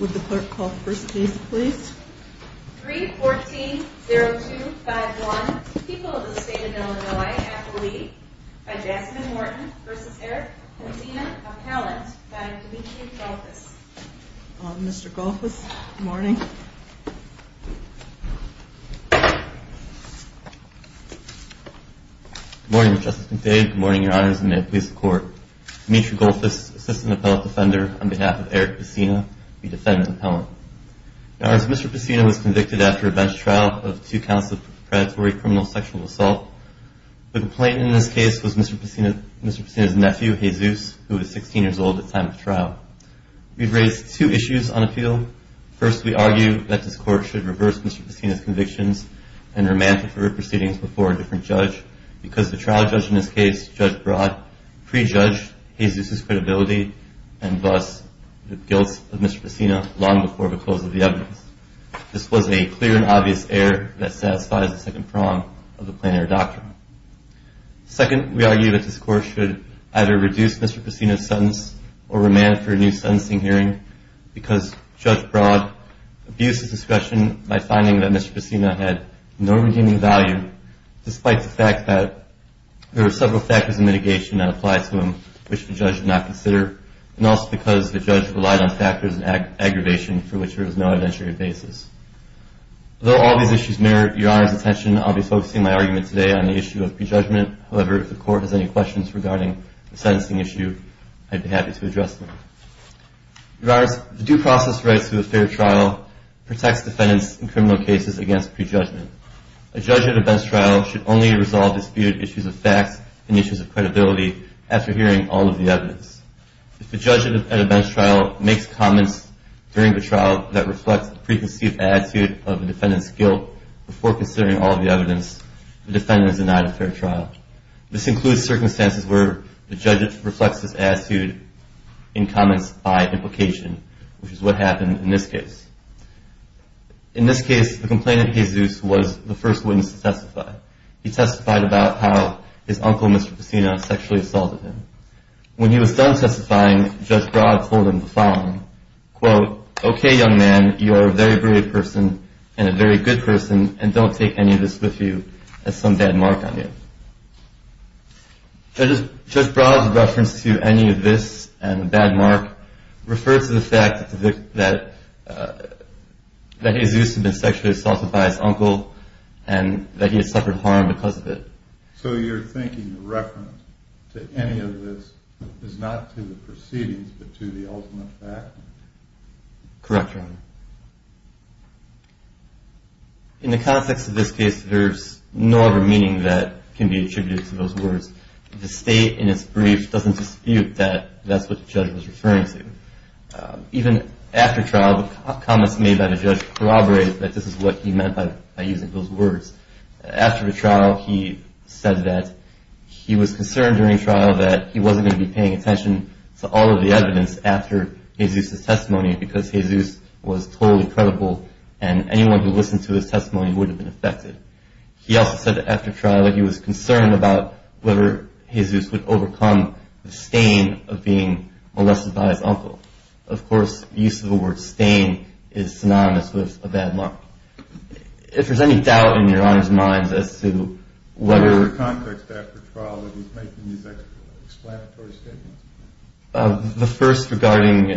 Would the clerk call the first case please? 3-14-0251, People of the State of Illinois, Appellee, by Jasmine Morton v. Eric Pesina, Appellant, by Dimitri Golfus. Mr. Golfus, good morning. Good morning, Mr. Justice McDade. Good morning, Your Honors, and may it please the Court. Dimitri Golfus, Assistant Appellate Defender, on behalf of Eric Pesina, we defend the appellant. Now, as Mr. Pesina was convicted after a bench trial of two counts of predatory criminal sexual assault, the complainant in this case was Mr. Pesina's nephew, Jesus, who was 16 years old at the time of the trial. We've raised two issues on appeal. First, we argue that this Court should reverse Mr. Pesina's convictions and remand him for proceedings before a different judge, because the trial judge in this case, Judge Broad, prejudged Jesus' credibility and thus the guilt of Mr. Pesina long before the close of the evidence. This was a clear and obvious error that satisfies the second prong of the plainer doctrine. Second, we argue that this Court should either reduce Mr. Pesina's sentence or remand him for a new sentencing hearing, because Judge Broad abused his discretion by finding that Mr. Pesina had no redeeming value, despite the fact that there were several factors of mitigation that applied to him which the judge did not consider, and also because the judge relied on factors of aggravation for which there was no evidentiary evidence. Although all these issues merit Your Honor's attention, I'll be focusing my argument today on the issue of prejudgment. However, if the Court has any questions regarding the sentencing issue, I'd be happy to address them. Your Honors, the due process rights to a fair trial protects defendants in criminal cases against prejudgment. A judge at a bench trial should only resolve disputed issues of facts and issues of credibility after hearing all of the evidence. If the judge at a bench trial makes comments during the trial that reflect the preconceived attitude of the defendant's guilt before considering all of the evidence, the defendant is denied a fair trial. This includes circumstances where the judge reflects his attitude in comments by implication, which is what happened in this case. In this case, the complainant, Jesus, was the first witness to testify. He testified about how his uncle, Mr. Pesina, sexually assaulted him. When he was done testifying, Judge Broad told him the following, quote, Okay, young man, you are a very brave person and a very good person, and don't take any of this with you. That's some bad mark on you. Judge Broad's reference to any of this and the bad mark refers to the fact that Jesus had been sexually assaulted by his uncle and that he had suffered harm because of it. So you're thinking the reference to any of this is not to the proceedings but to the ultimate fact? Correct, Your Honor. In the context of this case, there's no other meaning that can be attributed to those words. The state in its brief doesn't dispute that that's what the judge was referring to. Even after trial, the comments made by the judge corroborate that this is what he meant by using those words. After the trial, he said that he was concerned during trial that he wasn't going to be paying attention to all of the evidence after Jesus' testimony because Jesus was totally credible and anyone who listened to his testimony would have been affected. He also said that after trial, he was concerned about whether Jesus would overcome the stain of being molested by his uncle. Of course, the use of the word stain is synonymous with a bad mark. If there's any doubt in Your Honor's mind as to whether... What was the context after trial when he was making these explanatory statements? The first regarding...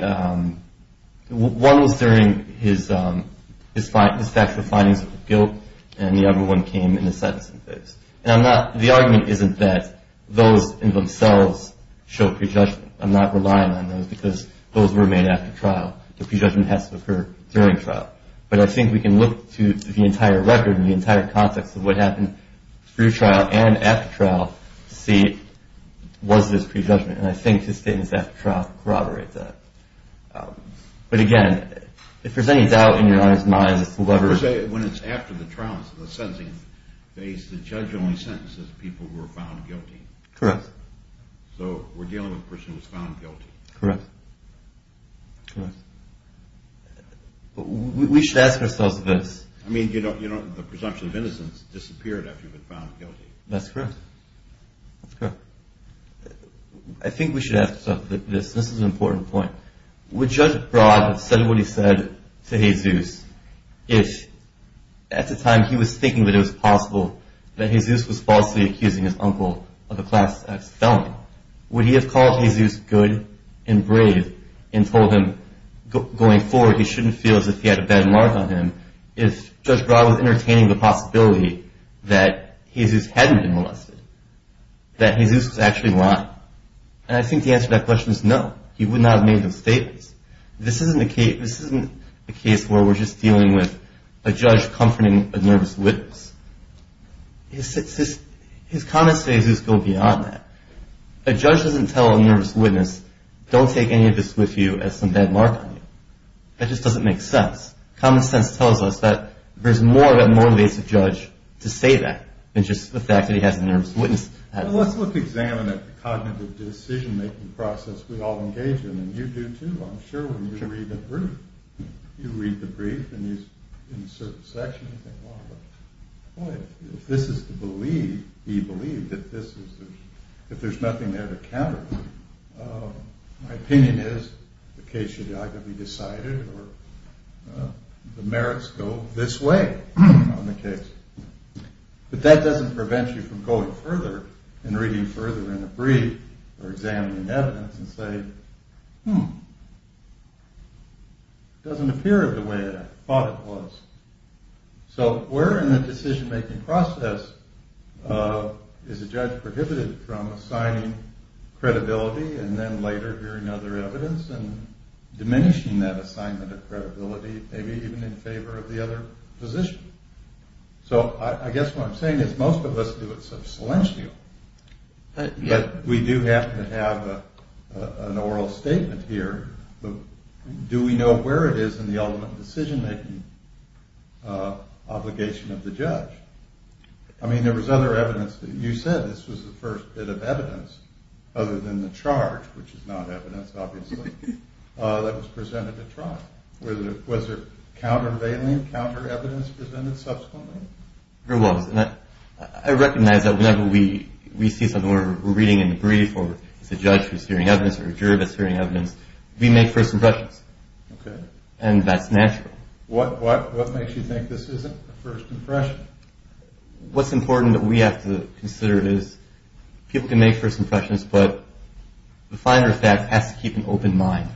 one was during his factual findings of guilt and the other one came in the sentencing phase. The argument isn't that those in themselves show prejudgment. I'm not relying on those because those were made after trial. The prejudgment has to occur during trial. But I think we can look to the entire record and the entire context of what happened through trial and after trial to see was this prejudgment. And I think his statements after trial corroborate that. But again, if there's any doubt in Your Honor's mind as to whether... When it's after the trial, the sentencing phase, the judge only sentences people who are found guilty. Correct. So we're dealing with a person who was found guilty. Correct. Correct. We should ask ourselves this. I mean, you know, the presumption of innocence disappeared after you've been found guilty. That's correct. That's correct. I think we should ask ourselves this. This is an important point. Would Judge Broad have said what he said to Jesus if at the time he was thinking that it was possible that Jesus was falsely accusing his uncle of a Class X felony? Would he have called Jesus good and brave and told him going forward he shouldn't feel as if he had a bad mark on him if Judge Broad was entertaining the possibility that Jesus hadn't been molested, that Jesus was actually lying? And I think the answer to that question is no. He would not have made those statements. This isn't a case where we're just dealing with a judge comforting a nervous witness. His comments today just go beyond that. A judge doesn't tell a nervous witness, don't take any of this with you as some bad mark on you. That just doesn't make sense. Common sense tells us that there's more that motivates a judge to say that than just the fact that he has a nervous witness. Well, let's look and examine that cognitive decision-making process we all engage in, and you do too, I'm sure, when you read the brief. You read the brief and in a certain section you think, well, if this is to be believed, if there's nothing there to counter, my opinion is the case should either be decided or the merits go this way on the case. But that doesn't prevent you from going further and reading further in the brief or examining evidence and say, hmm, it doesn't appear the way I thought it was. So where in the decision-making process is a judge prohibited from assigning credibility and then later hearing other evidence and diminishing that assignment of credibility, maybe even in favor of the other position? So I guess what I'm saying is most of us do it substantially. But we do happen to have an oral statement here. Do we know where it is in the ultimate decision-making obligation of the judge? I mean, there was other evidence. You said this was the first bit of evidence, other than the charge, which is not evidence, obviously, that was presented at trial. Was there counter-revealing, counter-evidence presented subsequently? There was. And I recognize that whenever we see something we're reading in the brief or it's a judge who's hearing evidence or a juror that's hearing evidence, we make first impressions. Okay. And that's natural. What makes you think this isn't a first impression? What's important that we have to consider is people can make first impressions, but the finer fact has to keep an open mind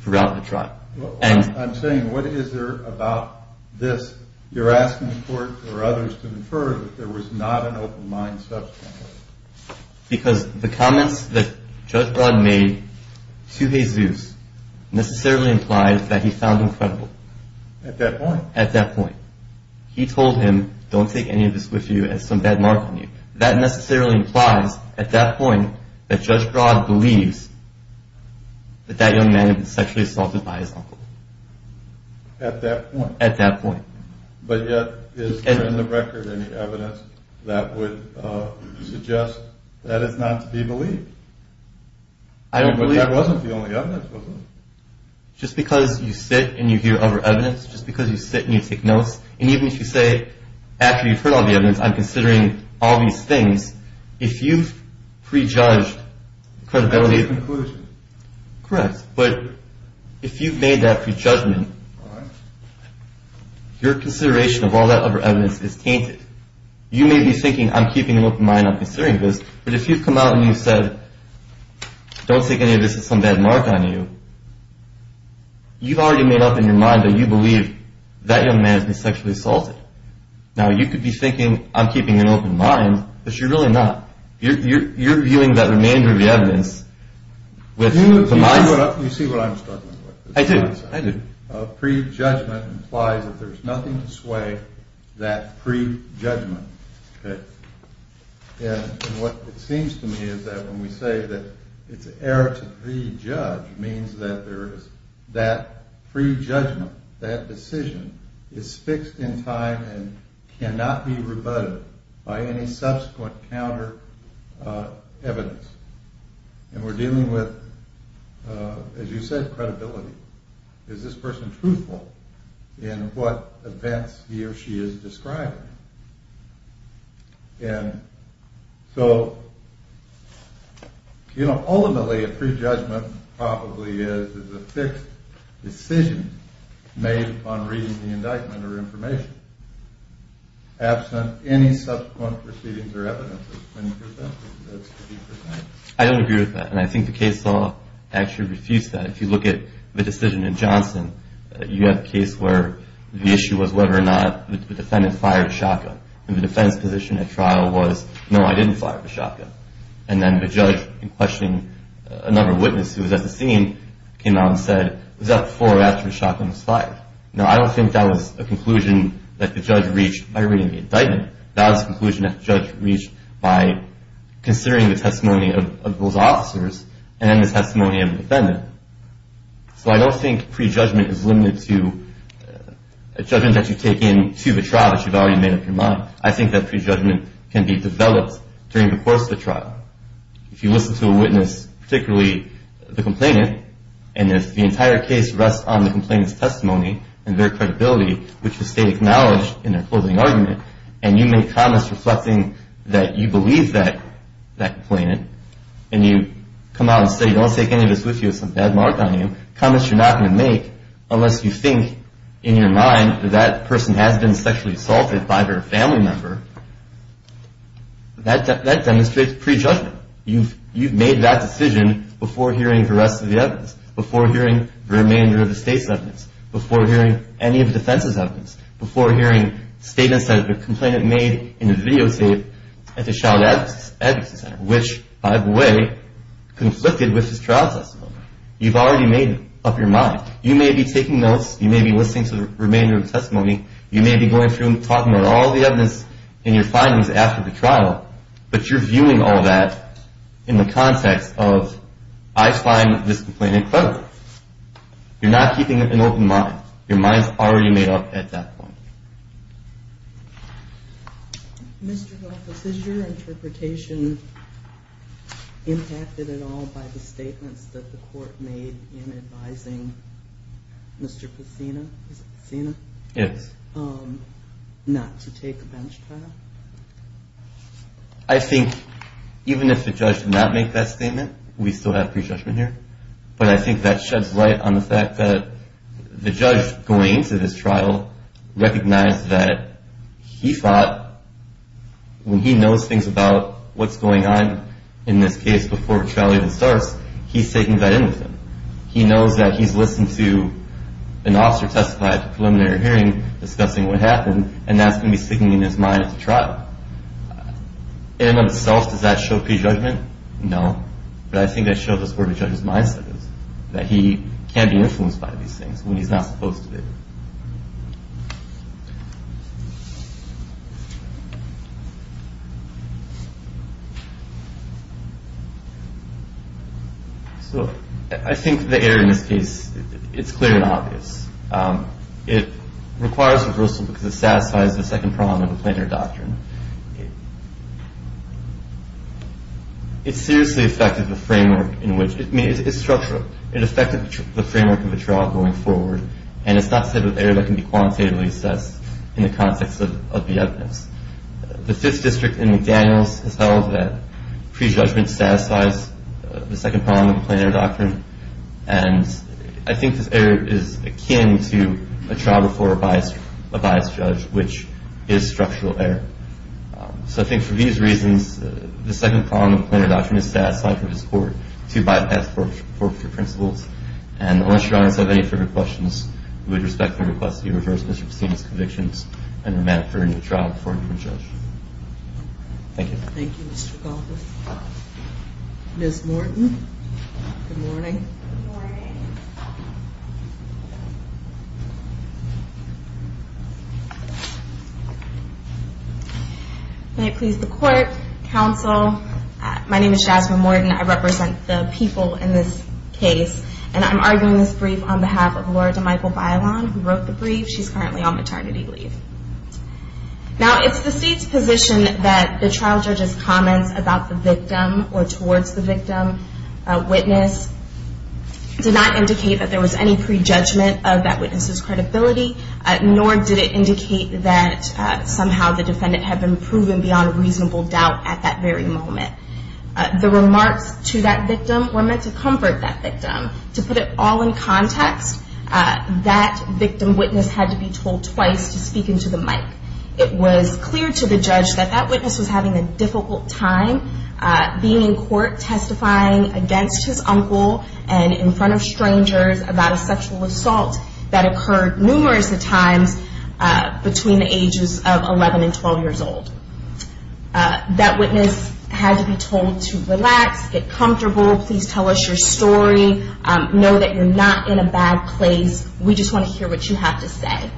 throughout the trial. I'm saying what is there about this? You're asking the court or others to infer that there was not an open mind subsequently. Because the comments that Judge Broad made to Jesus necessarily implies that he found him credible. At that point. At that point. He told him, don't take any of this with you, it has some bad mark on you. That necessarily implies at that point that Judge Broad believes that that young man had been sexually assaulted by his uncle. At that point. But yet is there in the record any evidence that would suggest that it's not to be believed? I don't believe. But that wasn't the only evidence, was it? Just because you sit and you hear other evidence, just because you sit and you take notes, and even if you say after you've heard all the evidence I'm considering all these things, if you've prejudged credibility. That's a conclusion. Correct. But if you've made that prejudgment. Your consideration of all that other evidence is tainted. You may be thinking, I'm keeping an open mind, I'm considering this. But if you've come out and you've said, don't take any of this with some bad mark on you. You've already made up in your mind that you believe that young man has been sexually assaulted. Now you could be thinking, I'm keeping an open mind. But you're really not. You're viewing that remainder of the evidence with the mind. You see what I'm struggling with. I do. Prejudgment implies that there's nothing to sway that prejudgment. Okay. And what it seems to me is that when we say that it's an error to prejudge, it means that there is that prejudgment, that decision, is fixed in time and cannot be rebutted by any subsequent counter evidence. And we're dealing with, as you said, credibility. Is this person truthful in what events he or she is describing? And so, you know, ultimately a prejudgment probably is a fixed decision made upon reading the indictment or information, absent any subsequent proceedings or evidence. Do you agree with that? I don't agree with that, and I think the case law actually refutes that. If you look at the decision in Johnson, you have a case where the issue was whether or not the defendant fired the shotgun. And the defense position at trial was, no, I didn't fire the shotgun. And then the judge, in questioning another witness who was at the scene, came out and said, was that before or after the shotgun was fired? Now, I don't think that was a conclusion that the judge reached by reading the indictment. That was a conclusion that the judge reached by considering the testimony of those officers and then the testimony of the defendant. So I don't think prejudgment is limited to a judgment that you take into the trial that you've already made up your mind. I think that prejudgment can be developed during the course of the trial. If you listen to a witness, particularly the complainant, and if the entire case rests on the complainant's testimony and their credibility, which the state acknowledged in their closing argument, and you make comments reflecting that you believe that complainant, and you come out and say, don't take any of this with you, it's a bad mark on you, comments you're not going to make unless you think in your mind that that person has been sexually assaulted by their family member, that demonstrates prejudgment. You've made that decision before hearing the rest of the evidence, before hearing the remainder of the state's evidence, before hearing any of the defense's evidence, before hearing statements that the complainant made in his videotape at the child advocacy center, which, by the way, conflicted with his trial testimony. You've already made up your mind. You may be taking notes. You may be listening to the remainder of the testimony. But you're viewing all that in the context of, I find this complainant credible. You're not keeping an open mind. Your mind's already made up at that point. Mr. Goldfuss, is your interpretation impacted at all by the statements that the court made in advising Mr. Pacino, is it Pacino? Yes. Not to take a bench trial? I think even if the judge did not make that statement, we still have prejudgment here. But I think that sheds light on the fact that the judge going into this trial recognized that he thought, when he knows things about what's going on in this case before a trial even starts, he's taking that in with him. He knows that he's listened to an officer testify at the preliminary hearing discussing what happened, and that's going to be sticking in his mind at the trial. In and of itself, does that show prejudgment? No. But I think that shows us where the judge's mindset is, that he can be influenced by these things when he's not supposed to be. So I think the error in this case, it's clear and obvious. It requires reversal because it satisfies the second prong of the plaintiff doctrine. It seriously affected the framework in which it's structured. It affected the framework of the trial going forward, and it's not the type of error that can be quantitatively assessed in the context of the evidence. The Fifth District in McDaniels has held that prejudgment satisfies the second prong of the plaintiff doctrine, and I think this error is akin to a trial before a biased judge, which is structural error. So I think for these reasons, the second prong of the plaintiff doctrine is satisfied for this court to bypass forfeiture principles. And unless Your Honors have any further questions, we would respectfully request that you reverse Mr. Pustina's convictions and remand him for a new trial before a new judge. Thank you. Thank you, Mr. Goldberg. Ms. Morton, good morning. Good morning. May it please the Court, Counsel, my name is Jasmine Morton. I represent the people in this case, and I'm arguing this brief on behalf of Laura DeMichael Bailon, who wrote the brief. She's currently on maternity leave. Now, it's the State's position that the trial judge's comments about the victim or towards the victim witness did not indicate that there was any prejudgment of that witness's credibility, nor did it indicate that somehow the defendant had been proven beyond reasonable doubt at that very moment. The remarks to that victim were meant to comfort that victim. To put it all in context, that victim witness had to be told twice to speak into the mic. It was clear to the judge that that witness was having a difficult time being in court testifying against his uncle and in front of strangers about a sexual assault that occurred numerous times between the ages of 11 and 12 years old. That witness had to be told to relax, get comfortable, please tell us your story, know that you're not in a bad place, we just want to hear what you have to say.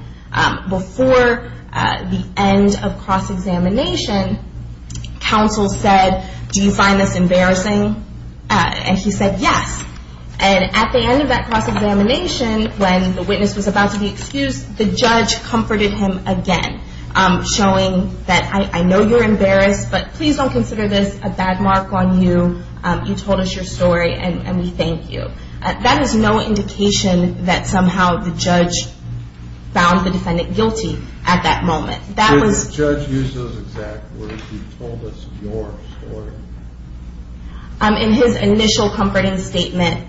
Before the end of cross-examination, counsel said, do you find this embarrassing? And he said, yes. And at the end of that cross-examination, when the witness was about to be excused, the judge comforted him again, showing that I know you're embarrassed, but please don't consider this a bad mark on you. You told us your story, and we thank you. That is no indication that somehow the judge found the defendant guilty at that moment. Did the judge use those exact words? He told us your story. In his initial comforting statement,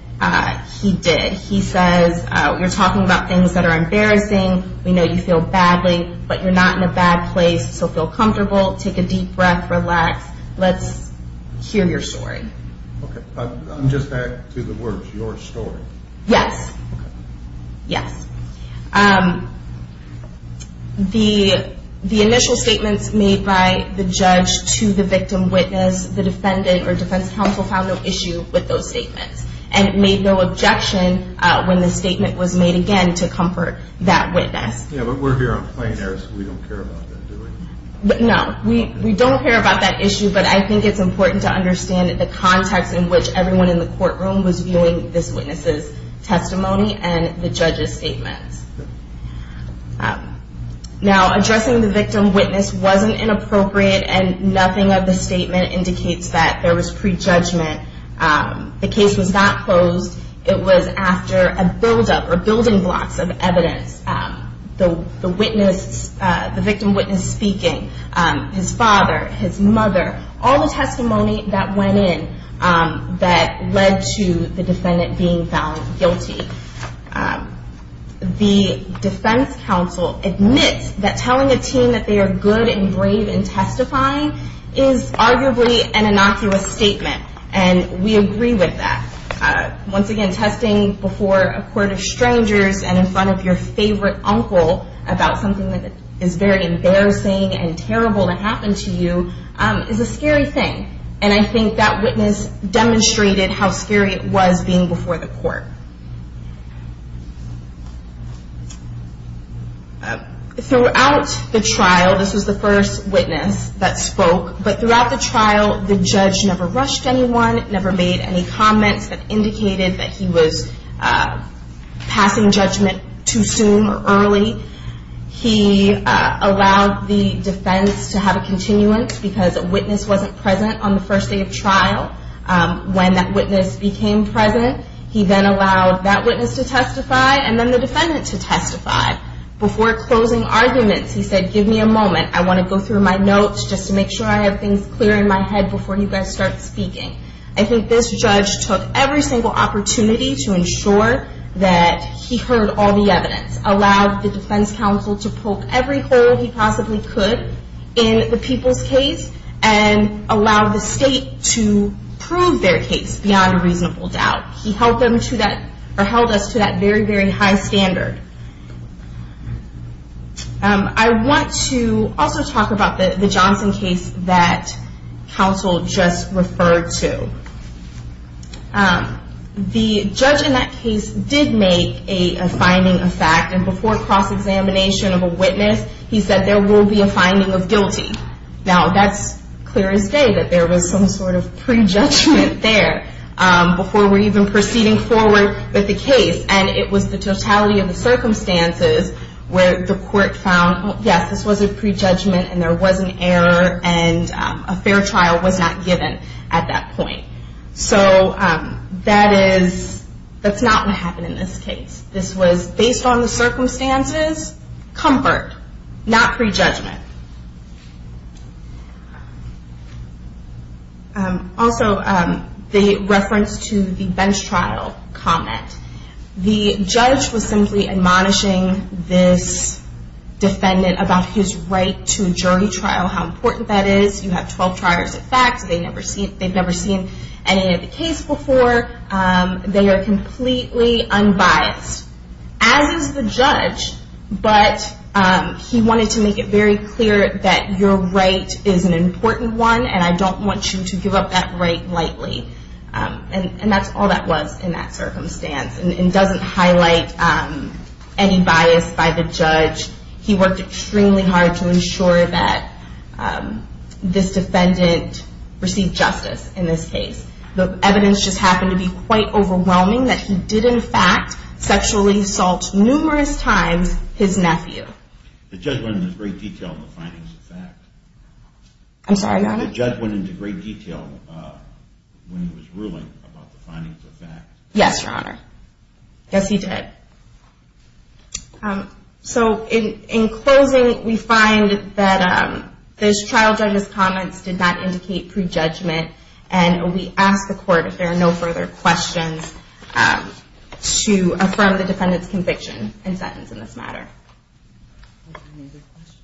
he did. He said, you're talking about things that are embarrassing, we know you feel badly, but you're not in a bad place, so feel comfortable, take a deep breath, relax, let's hear your story. Okay, just back to the words, your story. Yes. Okay. Yes. The initial statements made by the judge to the victim witness, the defendant or defense counsel found no issue with those statements and made no objection when the statement was made again to comfort that witness. Yeah, but we're here on plain air, so we don't care about that, do we? No, we don't care about that issue, but I think it's important to understand the context in which everyone in the courtroom was viewing this witness's testimony and the judge's statements. Now, addressing the victim witness wasn't inappropriate, and nothing of the statement indicates that there was prejudgment. The case was not closed. It was after a buildup or building blocks of evidence. The witness, the victim witness speaking, his father, his mother, all the testimony that went in that led to the defendant being found guilty. The defense counsel admits that telling a teen that they are good and brave in testifying is arguably an innocuous statement, and we agree with that. Once again, testing before a court of strangers and in front of your favorite uncle about something that is very embarrassing and terrible to happen to you is a scary thing, and I think that witness demonstrated how scary it was being before the court. Throughout the trial, this was the first witness that spoke, but throughout the trial the judge never rushed anyone, never made any comments that indicated that he was passing judgment too soon or early. He allowed the defense to have a continuance because a witness wasn't present on the first day of trial. When that witness became present, he then allowed that witness to testify and then the defendant to testify. Before closing arguments, he said, give me a moment, I want to go through my notes just to make sure I have things clear in my head before you guys start speaking. I think this judge took every single opportunity to ensure that he heard all the evidence, allowed the defense counsel to poke every hole he possibly could in the people's case, and allowed the state to prove their case beyond a reasonable doubt. He held us to that very, very high standard. I want to also talk about the Johnson case that counsel just referred to. The judge in that case did make a finding of fact, and before cross-examination of a witness, he said there will be a finding of guilty. Now, that's clear as day that there was some sort of prejudgment there before we were even proceeding forward with the case. It was the totality of the circumstances where the court found, yes, this was a prejudgment and there was an error and a fair trial was not given at that point. That's not what happened in this case. This was based on the circumstances, comfort, not prejudgment. Also, the reference to the bench trial comment. The judge was simply admonishing this defendant about his right to a jury trial, how important that is. You have 12 trials of facts. They've never seen any of the case before. They are completely unbiased, as is the judge, but he wanted to make it very clear that your right is an important one and I don't want you to give up that right lightly. And that's all that was in that circumstance. It doesn't highlight any bias by the judge. He worked extremely hard to ensure that this defendant received justice in this case. The evidence just happened to be quite overwhelming that he did, in fact, sexually assault numerous times his nephew. The judge went into great detail in the findings of fact. I'm sorry, Your Honor? The judge went into great detail when he was ruling about the findings of fact. Yes, Your Honor. Yes, he did. So in closing, we find that this trial judge's comments did not indicate prejudgment and we ask the Court, if there are no further questions, to affirm the defendant's conviction and sentence in this matter. Any other questions?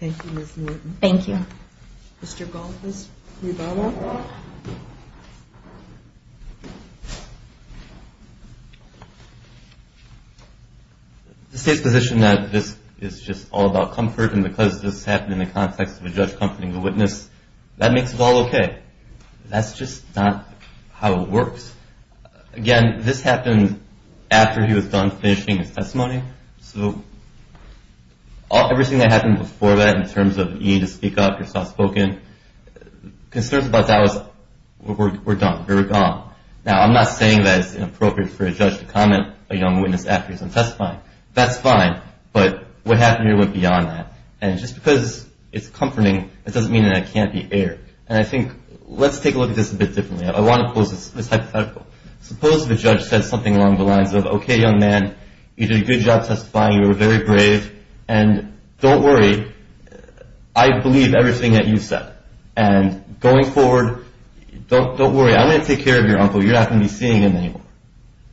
Thank you, Ms. Newton. Thank you. Mr. Goldfuss, can you follow up? The State's position that this is just all about comfort and because this happened in the context of a judge comforting the witness, that makes it all okay. That's just not how it works. Again, this happened after he was done finishing his testimony, so everything that happened before that in terms of you need to speak up, you're soft-spoken, concerns about that was we're done, we're gone. Now, I'm not saying that it's inappropriate for a judge to comment a young witness after he's been testifying. That's fine, but what happened here went beyond that. And just because it's comforting, it doesn't mean that it can't be aired. And I think let's take a look at this a bit differently. I want to pose this hypothetical. Suppose the judge said something along the lines of, okay, young man, you did a good job testifying, you were very brave, and don't worry, I believe everything that you said. And going forward, don't worry, I'm going to take care of your uncle. You're not going to be seeing him anymore.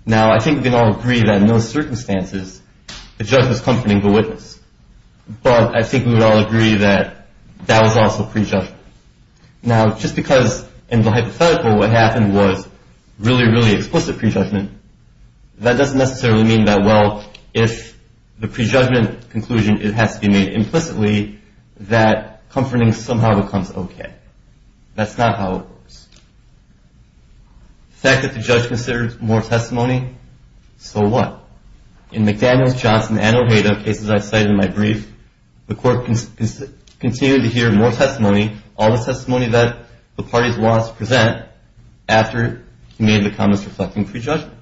Now, I think we can all agree that in those circumstances, the judge was comforting the witness. But I think we would all agree that that was also prejudgment. Now, just because in the hypothetical what happened was really, really explicit prejudgment, that doesn't necessarily mean that, well, if the prejudgment conclusion has to be made implicitly, that comforting somehow becomes okay. That's not how it works. The fact that the judge considers more testimony, so what? In McDaniels, Johnson, and Ojeda, cases I've cited in my brief, the court continued to hear more testimony, all the testimony that the parties want us to present, after he made the comments reflecting prejudgment.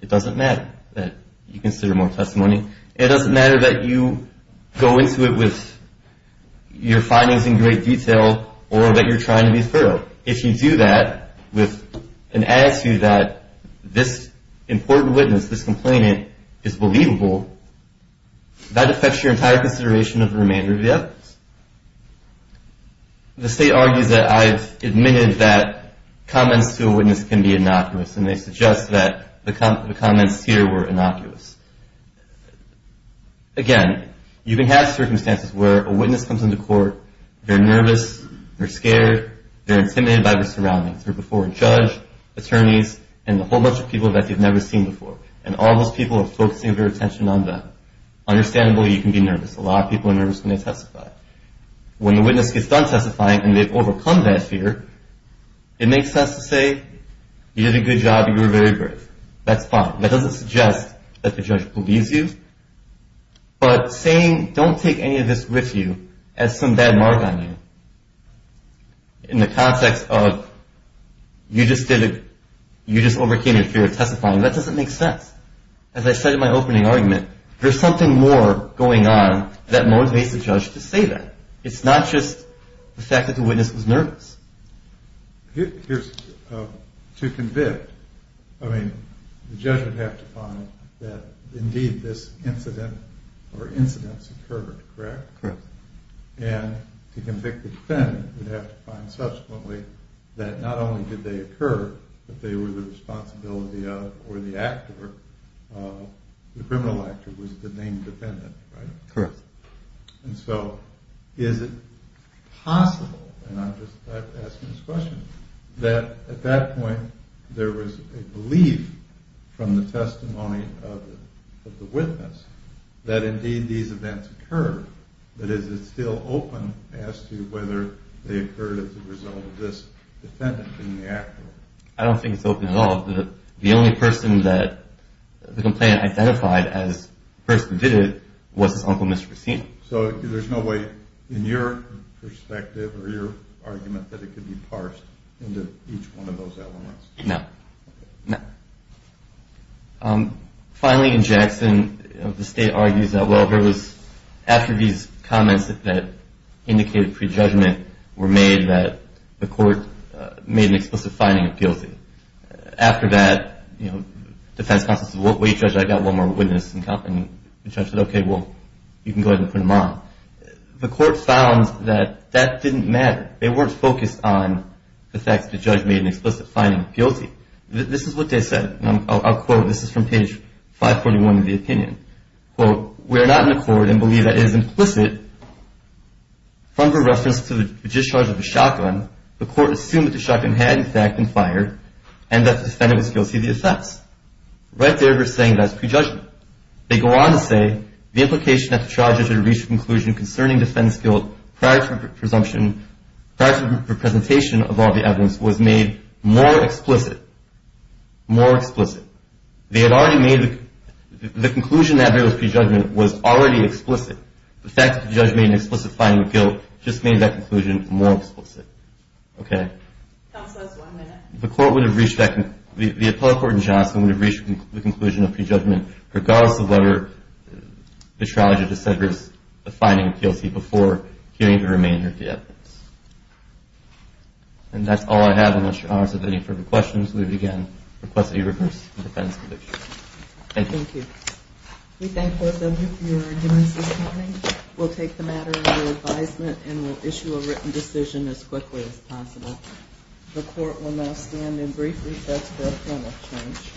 It doesn't matter that you consider more testimony. It doesn't matter that you go into it with your findings in great detail or that you're trying to be thorough. If you do that with an attitude that this important witness, this complainant, is believable, that affects your entire consideration of the remainder of the evidence. The state argues that I've admitted that comments to a witness can be innocuous, and they suggest that the comments here were innocuous. Again, you can have circumstances where a witness comes into court, they're nervous, they're scared, they're intimidated by their surroundings. They're before a judge, attorneys, and a whole bunch of people that they've never seen before, and all those people are focusing their attention on them. Understandably, you can be nervous. A lot of people are nervous when they testify. When the witness gets done testifying and they've overcome that fear, it makes sense to say, you did a good job, you were very brave. That's fine. That doesn't suggest that the judge believes you. But saying don't take any of this with you as some bad mark on you in the context of you just did it, you just overcame your fear of testifying, that doesn't make sense. As I said in my opening argument, there's something more going on that motivates the judge to say that. It's not just the fact that the witness was nervous. To convict, the judge would have to find that indeed this incident or incidents occurred, correct? Correct. And to convict the defendant, you'd have to find subsequently that not only did they occur, but they were the responsibility of or the actor, the criminal actor was the named defendant, right? Correct. And so is it possible, and I'm just asking this question, that at that point there was a belief from the testimony of the witness that indeed these events occurred? That is it still open as to whether they occurred as a result of this defendant being the actor? I don't think it's open at all. The only person that the complainant identified as the person who did it was his uncle, Mr. Cicino. So there's no way in your perspective or your argument that it could be parsed into each one of those elements? No. Finally, in Jackson, the state argues that, well, it was after these comments that indicated prejudgment were made that the court made an explicit finding of guilty. After that defense counsel said, well, Judge, I've got one more witness, and the judge said, okay, well, you can go ahead and put him on. The court found that that didn't matter. They weren't focused on the fact that the judge made an explicit finding of guilty. This is what they said, and I'll quote. This is from page 541 of the opinion. Quote, we are not in accord and believe that it is implicit from the reference to the discharge of a shotgun. The court assumed that the shotgun had, in fact, been fired and that the defendant was guilty of the offense. Right there, they're saying that's prejudgment. They go on to say the implication that the trial judge had reached a conclusion concerning defendant's guilt prior to the presumption, prior to the presentation of all the evidence was made more explicit, more explicit. They had already made the conclusion that there was prejudgment was already explicit. The fact that the judge made an explicit finding of guilt just made that conclusion more explicit. Okay. Counsel, that's one minute. The court would have reached that. The appellate court in Johnson would have reached the conclusion of prejudgment, regardless of whether the trial judge had said there was a finding of guilty before hearing the remainder of the evidence. And that's all I have. Unless you're honest with any further questions, we would, again, request that you reverse the defense conviction. Thank you. Thank you. We thank both of you for your endurance this morning. We'll take the matter under advisement and we'll issue a written decision as quickly as possible. The court will now stand in brief recess for appellate change.